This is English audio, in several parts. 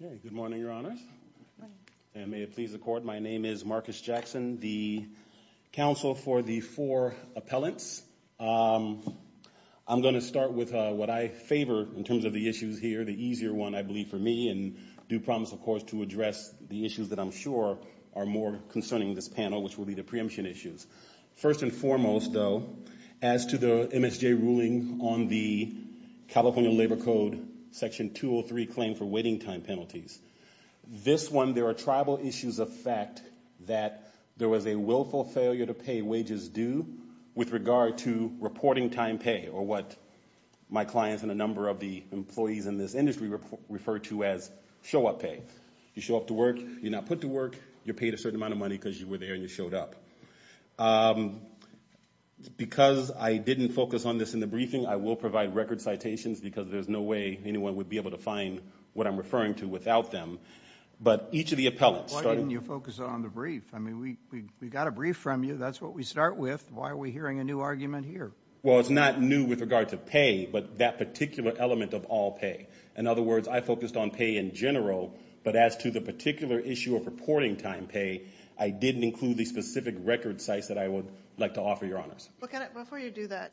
Good morning, Your Honors. May it please the Court, my name is Marcus Jackson, the counsel for the four appellants. I'm going to start with what I favor in terms of the issues here, the easier one, I believe, for me, and do promise, of course, to address the issues that I'm sure are more concerning this panel, which will be the preemption issues. First and foremost, though, as to the MSJ ruling on the California Labor Code Section 203 claim for waiting time penalties, this one, there are tribal issues of fact that there was a willful failure to pay wages due with regard to reporting time pay, or what my clients and a number of the employees in this industry refer to as show-up pay. You show up to work, you're not put to work, you're paid a certain amount of money because you were there and you showed up. Because I didn't focus on this in the briefing, I will provide record citations because there's no way anyone would be able to find what I'm referring to without them. But each of the appellants... Why didn't you focus on the brief? I mean, we got a brief from you, that's what we start with, why are we hearing a new argument here? Well, it's not new with regard to pay, but that particular element of all pay. In other words, I focused on pay in general, but as to the particular issue of reporting time pay, I didn't include the specific record sites that I would like to offer your honors. Well, Kenneth, before you do that,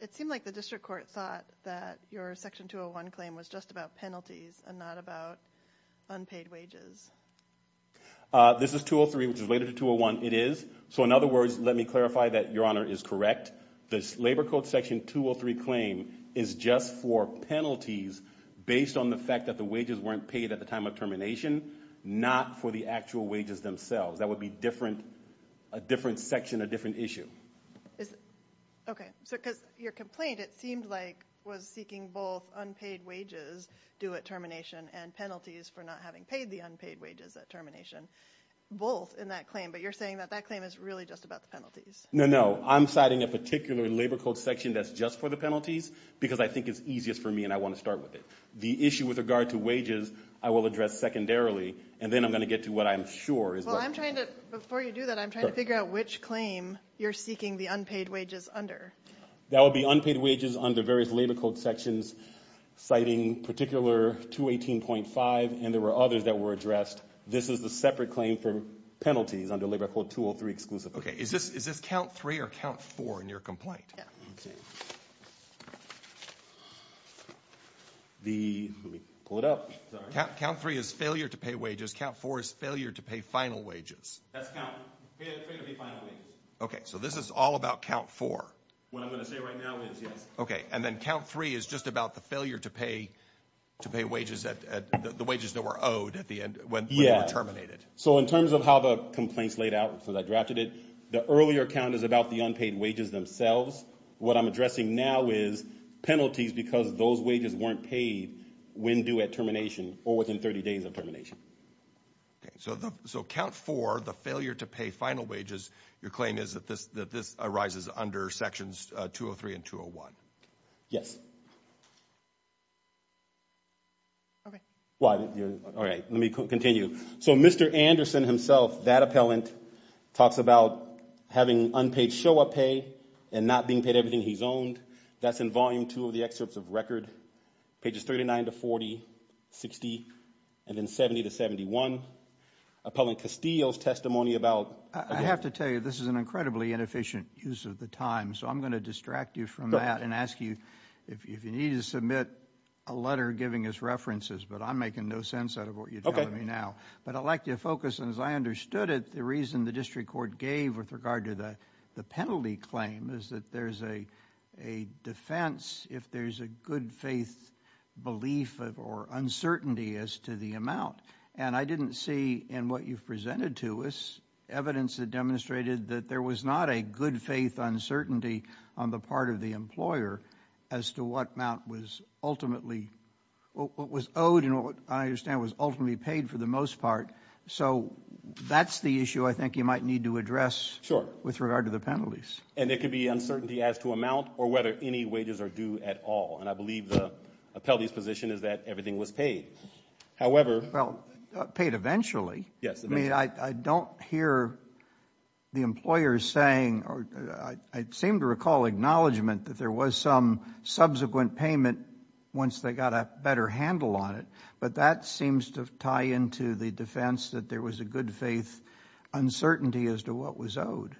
it seemed like the district court thought that your section 201 claim was just about penalties and not about unpaid wages. This is 203, which is related to 201, it is. So in other words, let me clarify that your honor is correct. This labor code section 203 claim is just for penalties based on the fact that the wages weren't paid at the time of termination, not for the actual wages themselves. That would be a different section, a different issue. Okay. So because your complaint, it seemed like was seeking both unpaid wages due at termination and penalties for not having paid the unpaid wages at termination, both in that claim. But you're saying that that claim is really just about the penalties. No, no. I'm citing a particular labor code section that's just for the penalties because I think it's easiest for me and I want to start with it. The issue with regard to wages, I will address secondarily, and then I'm going to get to what I'm sure is what... Well, I'm trying to, before you do that, I'm trying to figure out which claim you're seeking the unpaid wages under. That would be unpaid wages under various labor code sections, citing particular 218.5, and there were others that were addressed. This is the separate claim for penalties under labor code 203 exclusively. Okay. Is this count three or count four in your complaint? Yeah. Okay. Let me pull it up. Count three is failure to pay wages. Count four is failure to pay final wages. That's count. Failure to pay final wages. Okay. So this is all about count four. What I'm going to say right now is yes. Okay. And then count three is just about the failure to pay wages, the wages that were owed at the end when they were terminated. So in terms of how the complaints laid out, because I drafted it, the earlier count is about the unpaid wages themselves. What I'm addressing now is penalties because those wages weren't paid when due at termination or within 30 days of termination. Okay. So count four, the failure to pay final wages, your claim is that this arises under sections 203 and 201. Yes. Okay. All right. Let me continue. So Mr. Anderson himself, that appellant, talks about having unpaid show-up pay and not being paid everything he's owned. That's in volume two of the excerpts of record, pages 39 to 40, 60, and then 70 to 71. Appellant Castillo's testimony about- I have to tell you, this is an incredibly inefficient use of the time. So I'm going to distract you from that and ask you if you need to submit a letter giving us references, but I'm making no sense out of what you're telling me now. But I'd like you to focus, and as I understood it, the reason the district court gave with regard to the penalty claim is that there's a defense if there's a good faith belief or uncertainty as to the amount. And I didn't see in what you've presented to us evidence that demonstrated that there was not a good faith uncertainty on the part of the employer as to what amount was ultimately what was owed and what I understand was ultimately paid for the most part. So that's the issue I think you might need to address with regard to the penalties. And it could be uncertainty as to amount or whether any wages are due at all. And I believe the appellee's position is that everything was paid. However- Well, paid eventually. Yes, eventually. I mean, I don't hear the employer saying, or I seem to recall acknowledgment that there was some subsequent payment once they got a better handle on it, but that seems to tie into the defense that there was a good faith uncertainty as to what was owed.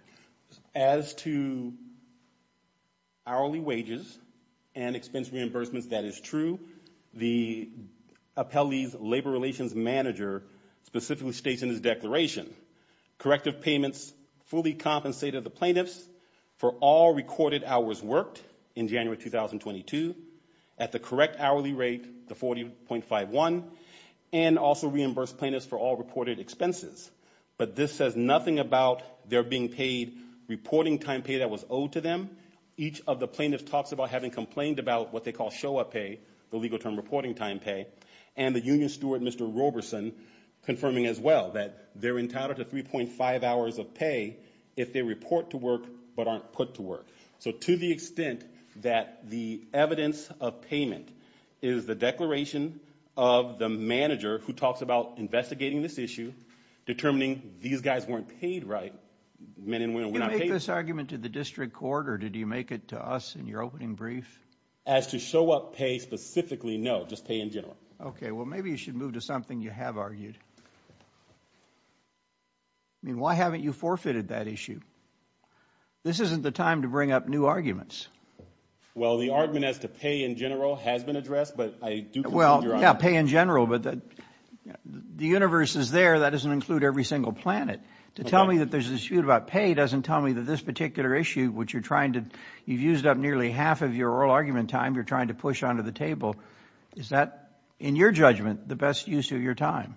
As to hourly wages and expense reimbursements, that is true. The appellee's labor relations manager specifically states in his declaration, corrective payments fully compensated the plaintiffs for all recorded hours worked in January 2022 at the correct hourly rate, the 40.51, and also reimbursed plaintiffs for all reported expenses. But this says nothing about their being paid reporting time pay that was owed to them. Each of the plaintiffs talks about having complained about what they call show-up pay, the legal term reporting time pay, and the union steward, Mr. Roberson, confirming as well that they're entitled to 3.5 hours of pay if they report to work but aren't put to work. So to the extent that the evidence of payment is the declaration of the manager who talks about investigating this issue, determining these guys weren't paid right, men and women were not paid- Did you make this argument to the district court or did you make it to us in your opening brief? As to show-up pay specifically, no, just pay in general. Okay. Well, maybe you should move to something you have argued. I mean, why haven't you forfeited that issue? This isn't the time to bring up new arguments. Well, the argument as to pay in general has been addressed, but I do- Well, yeah, pay in general, but the universe is there. That doesn't include every single planet. To tell me that there's a dispute about pay doesn't tell me that this particular issue, which you're trying to, you've used up nearly half of your oral argument time you're trying to push onto the table. Is that, in your judgment, the best use of your time?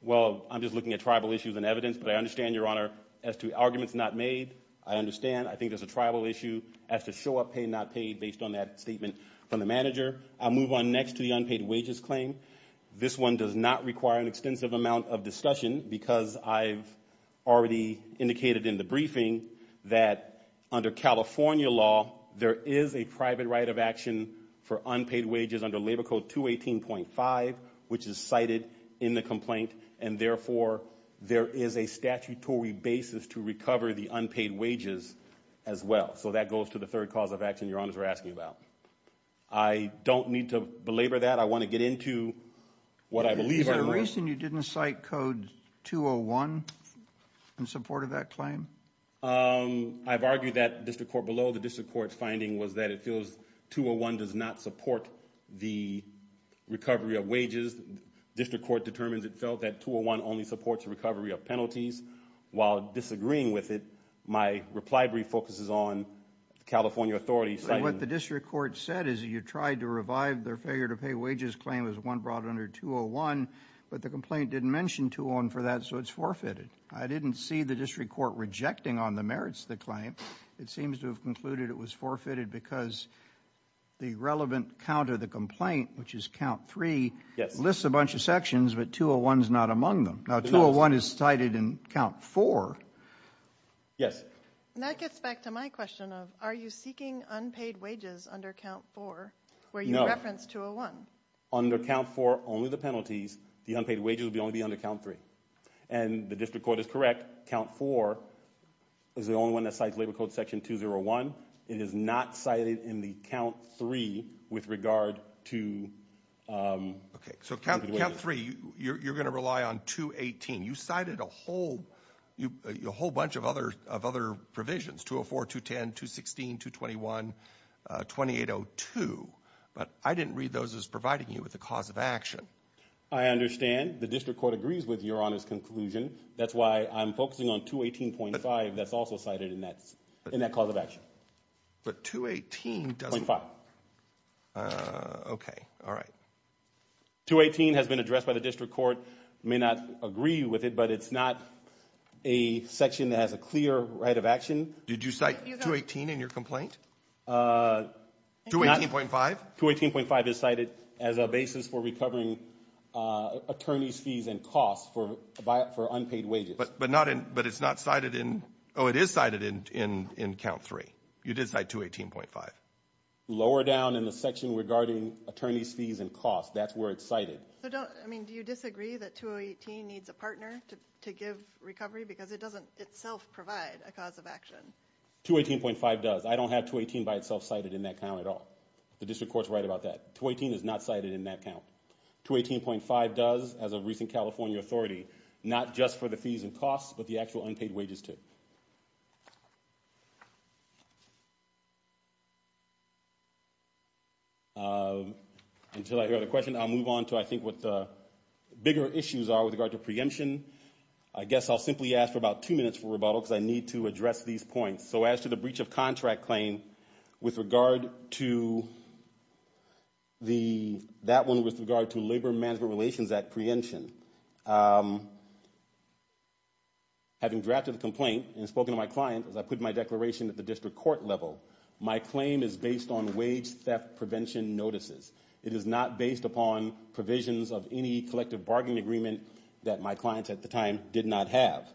Well, I'm just looking at tribal issues and evidence, but I understand, Your Honor, as to arguments not made. I understand. I think there's a tribal issue as to show-up pay not paid based on that statement from the manager. I'll move on next to the unpaid wages claim. This one does not require an extensive amount of discussion because I've already indicated in the briefing that, under California law, there is a private right of action for unpaid wages under Labor Code 218.5, which is cited in the complaint, and therefore, there is a statutory basis to recover the unpaid wages as well. That goes to the third cause of action Your Honors are asking about. I don't need to belabor that. I want to get into what I believe- Is there a reason you didn't cite Code 201 in support of that claim? I've argued that, District Court, below the District Court's finding was that it feels 201 does not support the recovery of wages. District Court determines it felt that 201 only supports the recovery of penalties. While disagreeing with it, my reply brief focuses on the California authorities citing- What the District Court said is that you tried to revive their failure to pay wages claim as one brought under 201, but the complaint didn't mention 201 for that, so it's forfeited. I didn't see the District Court rejecting on the merits of the claim. It seems to have concluded it was forfeited because the relevant count of the complaint, which is count three, lists a bunch of sections, but 201 is not among them. Now, 201 is cited in count four. Yes. That gets back to my question of, are you seeking unpaid wages under count four, where you reference 201? Under count four, only the penalties. The unpaid wages will only be under count three. And the District Court is correct. Count four is the only one that cites labor code section 201. It is not cited in the count three with regard to unpaid wages. So count three, you're going to rely on 218. You cited a whole bunch of other provisions, 204, 210, 216, 221, 2802, but I didn't read those as providing you with the cause of action. I understand. The District Court agrees with Your Honor's conclusion. That's why I'm focusing on 218.5 that's also cited in that cause of action. But 218 doesn't... .5. Okay. All right. 218 has been addressed by the District Court. May not agree with it, but it's not a section that has a clear right of action. Did you cite 218 in your complaint? 218.5? 218.5 is cited as a basis for recovering attorney's fees and costs for unpaid wages. But not in... But it's not cited in... Oh, it is cited in count three. You did cite 218.5. Lower down in the section regarding attorney's fees and costs. That's where it's cited. So don't... I mean, do you disagree that 218 needs a partner to give recovery? Because it doesn't itself provide a cause of action. 218.5 does. I don't have 218 by itself cited in that count at all. The District Court's right about that. 218 is not cited in that count. 218.5 does, as a recent California authority. Not just for the fees and costs, but the actual unpaid wages, too. Until I hear the question, I'll move on to, I think, what the bigger issues are with regard to preemption. I guess I'll simply ask for about two minutes for rebuttal, because I need to address these points. So as to the breach of contract claim, with regard to the... That one was with regard to Labor Management Relations Act preemption. Having drafted the complaint and spoken to my client as I put my declaration at the District Court level, my claim is based on wage theft prevention notices. It is not based upon provisions of any collective bargaining agreement that my client at the time did not have.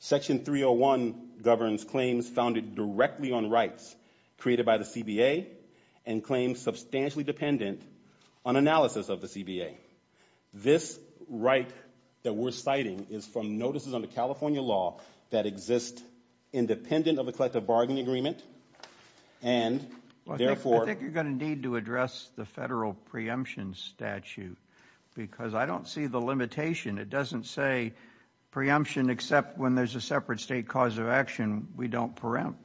Section 301 governs claims founded directly on rights created by the CBA and claims substantially dependent on analysis of the CBA. This right that we're citing is from notices under California law that exist independent of a collective bargaining agreement, and therefore... I think you're going to need to address the federal preemption statute, because I don't see the limitation. It doesn't say preemption except when there's a separate state cause of action. We don't preempt.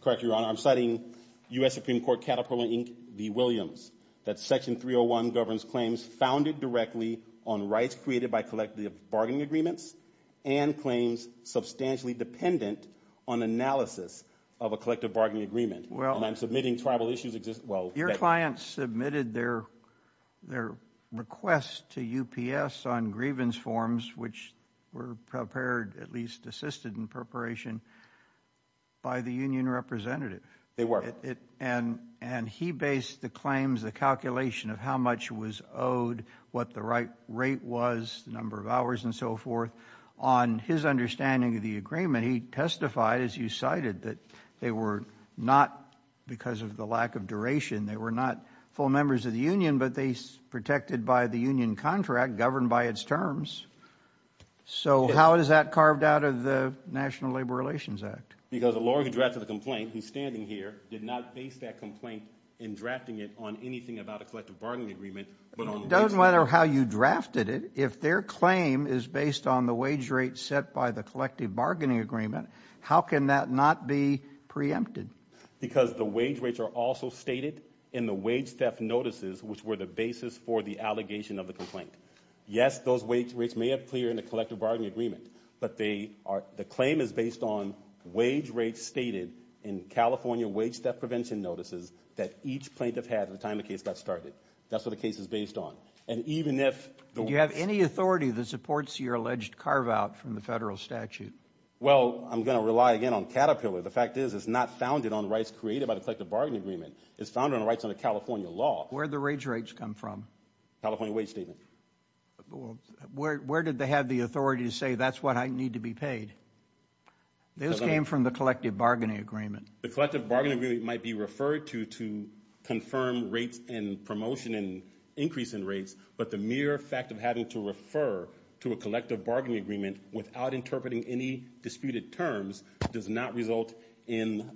Correct, Your Honor. I'm citing U.S. Supreme Court Caterpillar, Inc. v. Williams, that Section 301 governs claims founded directly on rights created by collective bargaining agreements and claims substantially dependent on analysis of a collective bargaining agreement, and I'm submitting tribal issues exist... Your client submitted their request to UPS on grievance forms, which were prepared, at least assisted in preparation, by the union representative. They were. And he based the claims, the calculation of how much was owed, what the right rate was, the number of hours, and so forth, on his understanding of the agreement. He testified, as you cited, that they were not, because of the lack of duration, they were not full members of the union, but they protected by the union contract governed by its terms. So how is that carved out of the National Labor Relations Act? Because the lawyer who drafted the complaint, who's standing here, did not base that complaint in drafting it on anything about a collective bargaining agreement, but on... It doesn't matter how you drafted it. If their claim is based on the wage rate set by the collective bargaining agreement, how can that not be preempted? Because the wage rates are also stated in the wage theft notices, which were the basis for the allegation of the complaint. Yes, those wage rates may appear in the collective bargaining agreement, but they are... The claim is based on wage rates stated in California wage theft prevention notices that each plaintiff had at the time the case got started. That's what the case is based on. And even if... And do you have any authority that supports your alleged carve out from the federal statute? Well, I'm going to rely again on Caterpillar. The fact is, it's not founded on rights created by the collective bargaining agreement. It's founded on rights under California law. Where did the wage rates come from? California wage statement. Where did they have the authority to say, that's what I need to be paid? Those came from the collective bargaining agreement. The collective bargaining agreement might be referred to to confirm rates and promotion and increase in rates. But the mere fact of having to refer to a collective bargaining agreement without interpreting any disputed terms does not result in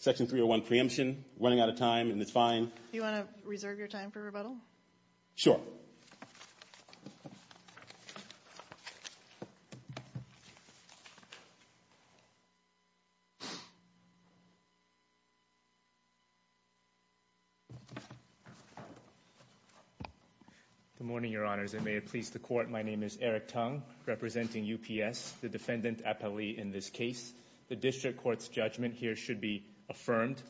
Section 301 preemption, running out of time, and it's fine. Do you want to reserve your time for rebuttal? Sure. Good morning, your honors, and may it please the court. My name is Eric Tung, representing UPS, the defendant appellee in this case. The district court's judgment here should be affirmed.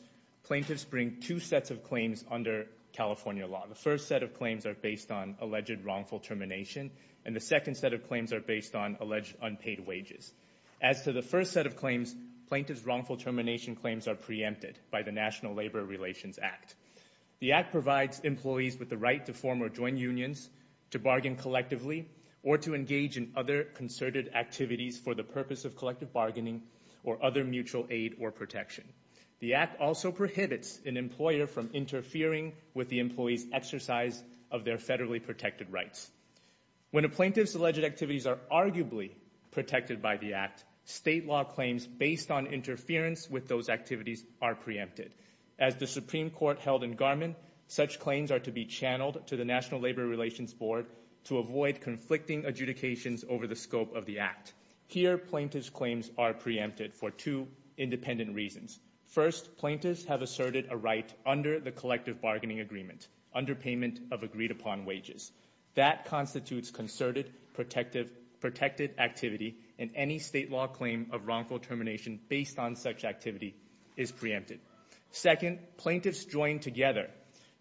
Plaintiffs bring two sets of claims under California law. The first set of claims are based on alleged wrongful termination, and the second set of claims are based on alleged unpaid wages. As to the first set of claims, plaintiff's wrongful termination claims are preempted by the National Labor Relations Act. The Act provides employees with the right to form or join unions, to bargain collectively, or to engage in other concerted activities for the purpose of collective bargaining or other mutual aid or protection. The Act also prohibits an employer from interfering with the employee's exercise of their federally protected rights. When a plaintiff's alleged activities are arguably protected by the Act, state law claims based on interference with those activities are preempted. As the Supreme Court held in Garmin, such claims are to be channeled to the National Labor Relations Board to avoid conflicting adjudications over the scope of the Act. Here, plaintiff's claims are preempted for two independent reasons. First, plaintiffs have asserted a right under the collective bargaining agreement, under payment of agreed-upon wages. That constitutes concerted protected activity, and any state law claim of wrongful termination based on such activity is preempted. Second, plaintiffs join together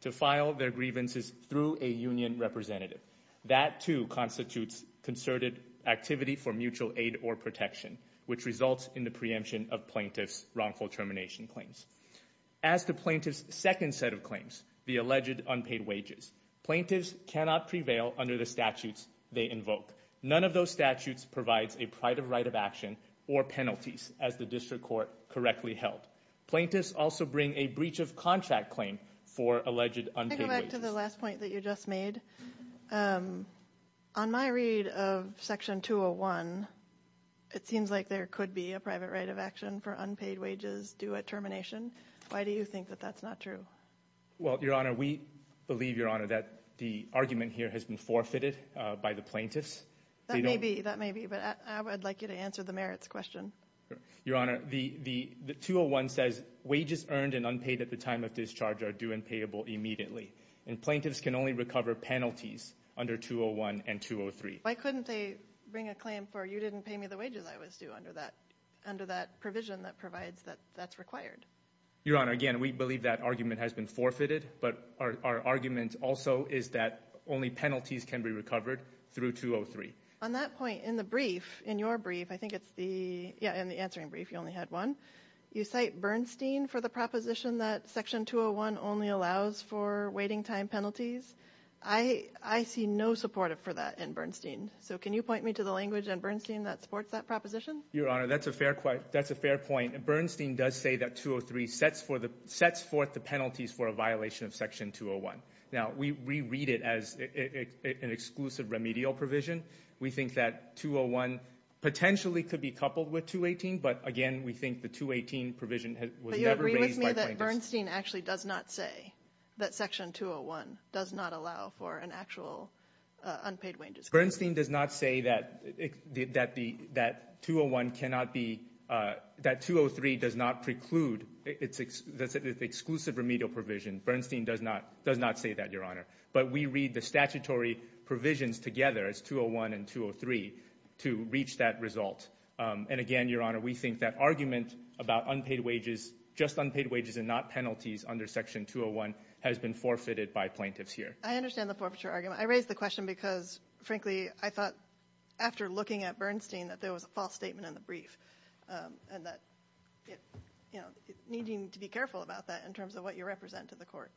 to file their grievances through a union representative. That too constitutes concerted activity for mutual aid or protection, which results in the preemption of plaintiff's wrongful termination claims. As to plaintiff's second set of claims, the alleged unpaid wages, plaintiffs cannot prevail under the statutes they invoke. None of those statutes provides a private right of action or penalties, as the District Court correctly held. Plaintiffs also bring a breach of contract claim for alleged unpaid wages. Can I go back to the last point that you just made? On my read of Section 201, it seems like there could be a private right of action for unpaid wages due at termination. Why do you think that that's not true? Well, Your Honor, we believe, Your Honor, that the argument here has been forfeited by the plaintiffs. That may be, that may be, but I would like you to answer the merits question. Your Honor, the 201 says wages earned and unpaid at the time of discharge are due and payable immediately, and plaintiffs can only recover penalties under 201 and 203. Why couldn't they bring a claim for you didn't pay me the wages I was due under that provision that provides that that's required? Your Honor, again, we believe that argument has been forfeited, but our argument also is that only penalties can be recovered through 203. On that point, in the brief, in your brief, I think it's the, yeah, in the answering brief, you only had one. You cite Bernstein for the proposition that Section 201 only allows for waiting time penalties. I see no support for that in Bernstein. So can you point me to the language in Bernstein that supports that proposition? Your Honor, that's a fair point. Bernstein does say that 203 sets forth the penalties for a violation of Section 201. Now, we reread it as an exclusive remedial provision. We think that 201 potentially could be coupled with 218, but again, we think the 218 provision was never raised by plaintiffs. But you agree with me that Bernstein actually does not say that Section 201 does not allow for an actual unpaid wages claim? Bernstein does not say that the, that 201 cannot be, that 203 does not preclude, it's an exclusive remedial provision. Bernstein does not say that, Your Honor. But we read the statutory provisions together as 201 and 203 to reach that result. And again, Your Honor, we think that argument about unpaid wages, just unpaid wages and not penalties under Section 201 has been forfeited by plaintiffs here. I understand the forfeiture argument. I raise the question because, frankly, I thought after looking at Bernstein that there was to be careful about that in terms of what you represent to the court.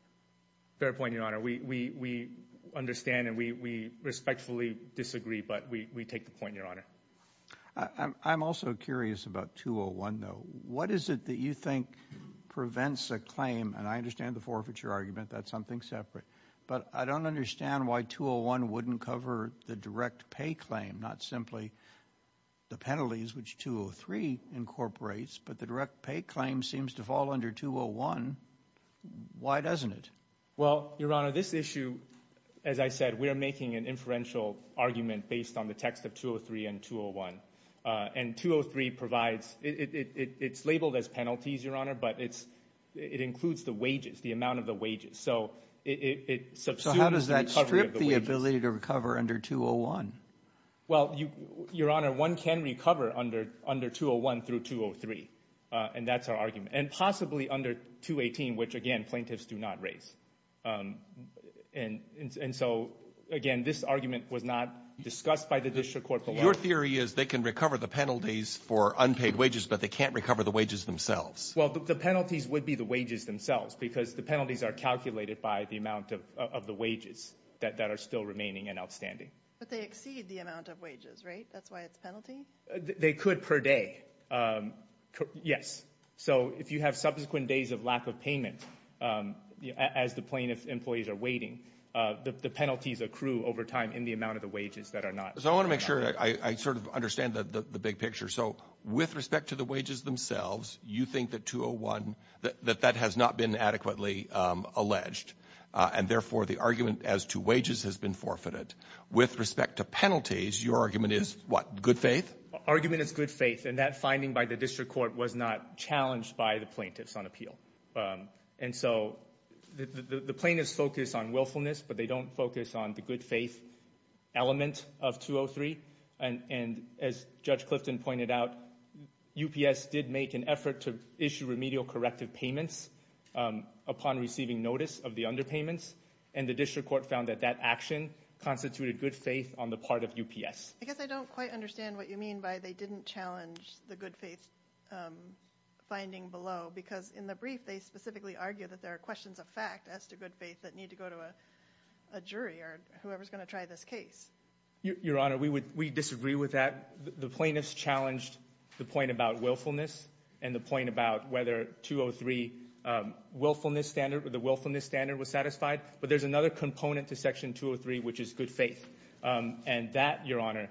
Fair point, Your Honor. We understand and we respectfully disagree, but we take the point, Your Honor. I'm also curious about 201, though. What is it that you think prevents a claim, and I understand the forfeiture argument, that's something separate, but I don't understand why 201 wouldn't cover the direct pay claim, not simply the penalties, which 203 incorporates, but the direct pay claim seems to fall under 201. Why doesn't it? Well, Your Honor, this issue, as I said, we're making an inferential argument based on the text of 203 and 201. And 203 provides, it's labeled as penalties, Your Honor, but it includes the wages, the amount of the wages. So it substitutes the recovery of the wages. So how does that strip the ability to recover under 201? Well, Your Honor, one can recover under 201 through 203, and that's our argument. And possibly under 218, which, again, plaintiffs do not raise. And so, again, this argument was not discussed by the district court below. Your theory is they can recover the penalties for unpaid wages, but they can't recover the wages themselves. Well, the penalties would be the wages themselves, because the penalties are calculated by the amount of the wages that are still remaining and outstanding. But they exceed the amount of wages, right? That's why it's penalty? They could per day, yes. So if you have subsequent days of lack of payment as the plaintiff's employees are waiting, the penalties accrue over time in the amount of the wages that are not. So I want to make sure I sort of understand the big picture. So with respect to the wages themselves, you think that 201, that that has not been adequately alleged, and therefore the argument as to wages has been forfeited. With respect to penalties, your argument is what? Good faith? Argument is good faith. And that finding by the district court was not challenged by the plaintiffs on appeal. And so the plaintiffs focus on willfulness, but they don't focus on the good faith element of 203. And as Judge Clifton pointed out, UPS did make an effort to issue remedial corrective payments upon receiving notice of the underpayments. And the district court found that that action constituted good faith on the part of UPS. I guess I don't quite understand what you mean by they didn't challenge the good faith finding below. Because in the brief, they specifically argue that there are questions of fact as to good faith that need to go to a jury or whoever's going to try this case. Your Honor, we disagree with that. The plaintiffs challenged the point about willfulness and the point about whether 203 willfulness standard or the willfulness standard was satisfied. But there's another component to Section 203, which is good faith. And that, Your Honor,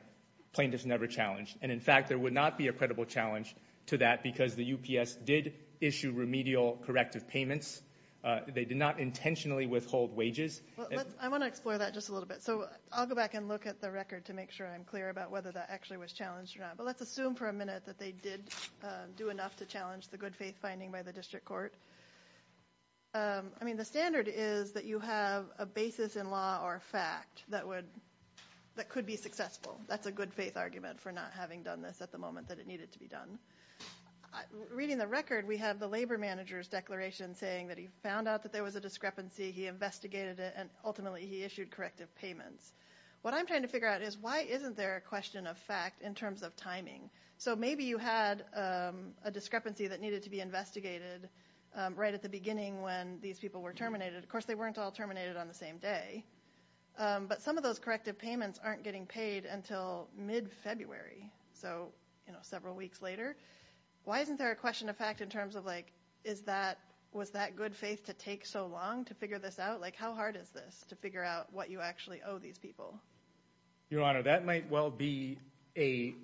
plaintiffs never challenged. And in fact, there would not be a credible challenge to that because the UPS did issue remedial corrective payments. They did not intentionally withhold wages. I want to explore that just a little bit. So I'll go back and look at the record to make sure I'm clear about whether that actually was challenged or not. But let's assume for a minute that they did do enough to challenge the good faith finding by the district court. I mean, the standard is that you have a basis in law or fact that could be successful. That's a good faith argument for not having done this at the moment that it needed to be done. Reading the record, we have the labor manager's declaration saying that he found out that there was a discrepancy, he investigated it, and ultimately he issued corrective payments. What I'm trying to figure out is why isn't there a question of fact in terms of timing? So maybe you had a discrepancy that needed to be investigated right at the beginning when these people were terminated. Of course, they weren't all terminated on the same day. But some of those corrective payments aren't getting paid until mid-February, so several weeks later. Why isn't there a question of fact in terms of like, was that good faith to take so long to figure this out? Like, how hard is this to figure out what you actually owe these people? Your Honor, that might well be a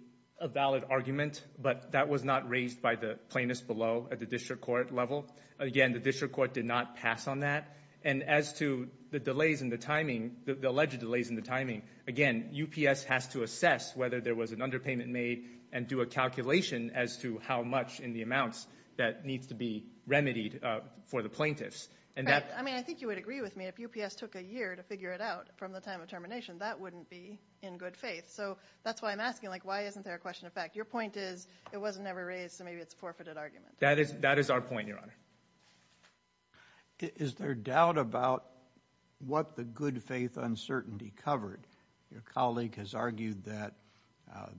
valid argument, but that was not raised by the plaintiffs below at the district court level. Again, the district court did not pass on that. And as to the delays in the timing, the alleged delays in the timing, again, UPS has to assess whether there was an underpayment made and do a calculation as to how much in the amounts that needs to be remedied for the plaintiffs. Right. I mean, I think you would agree with me if UPS took a year to figure it out from the time of termination, that wouldn't be in good faith. So that's why I'm asking, like, why isn't there a question of fact? Your point is it wasn't ever raised, so maybe it's a forfeited argument. That is our point, Your Honor. Is there doubt about what the good faith uncertainty covered? Your colleague has argued that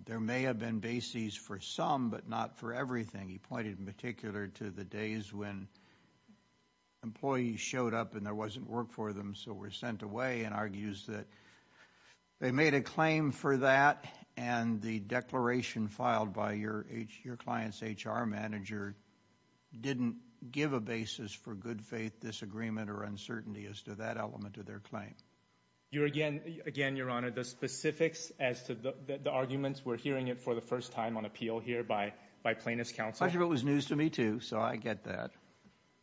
there may have been bases for some, but not for everything. He pointed in particular to the days when employees showed up and there wasn't work for them, so were sent away, and argues that they made a claim for that, and the declaration filed by your client's HR manager didn't give a basis for good faith disagreement or uncertainty as to that element of their claim. Again, Your Honor, the specifics as to the arguments, we're hearing it for the first time on appeal here by plaintiffs' counsel. I'm sure it was news to me, too, so I get that.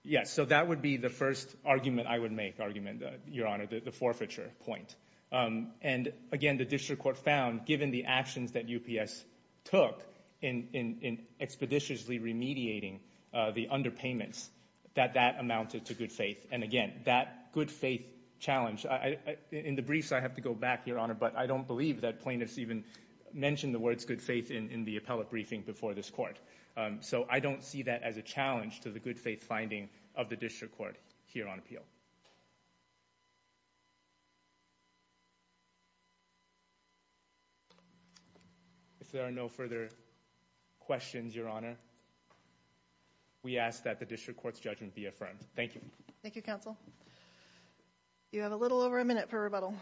Yes, so that would be the first argument I would make, argument, Your Honor, the forfeiture point. And, again, the district court found, given the actions that UPS took in expeditiously remediating the underpayments, that that amounted to good faith. And again, that good faith challenge, in the briefs I have to go back, Your Honor, but I don't believe that plaintiffs even mentioned the words good faith in the appellate briefing before this court. So I don't see that as a challenge to the good faith finding of the district court here on appeal. If there are no further questions, Your Honor, we ask that the district court's judgment be affirmed. Thank you. Thank you, counsel. You have a little over a minute for rebuttal.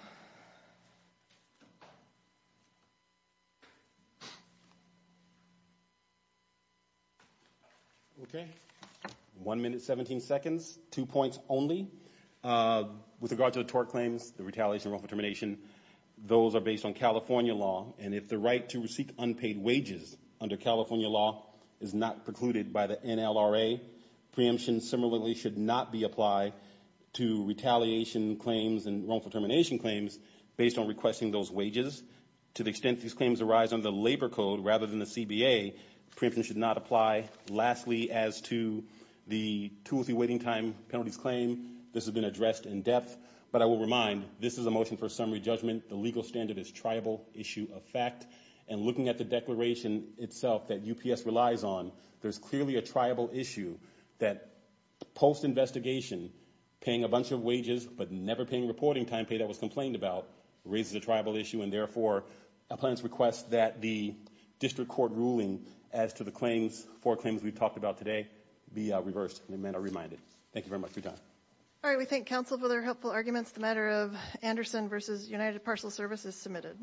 Okay, one minute, 17 seconds, two points only. With regard to the tort claims, the retaliation and wrongful termination, those are based on California law, and if the right to receive unpaid wages under California law is not precluded by the NLRA, preemption similarly should not be applied to retaliation claims and wrongful termination claims based on requesting those wages. To the extent these claims arise under the labor code rather than the CBA, preemption should not apply. Lastly, as to the tool-free waiting time penalties claim, this has been addressed in depth. But I will remind, this is a motion for summary judgment. The legal standard is triable, issue of fact. And looking at the declaration itself that UPS relies on, there's clearly a triable issue that post-investigation, paying a bunch of wages but never paying reporting time pay that was complained about raises a triable issue, and therefore, I plan to request that the district court ruling as to the claims, four claims we've talked about today, be reversed and amended or reminded. Thank you very much. Good job. All right, we thank counsel for their helpful arguments. The matter of Anderson v. United Parcel Service is submitted.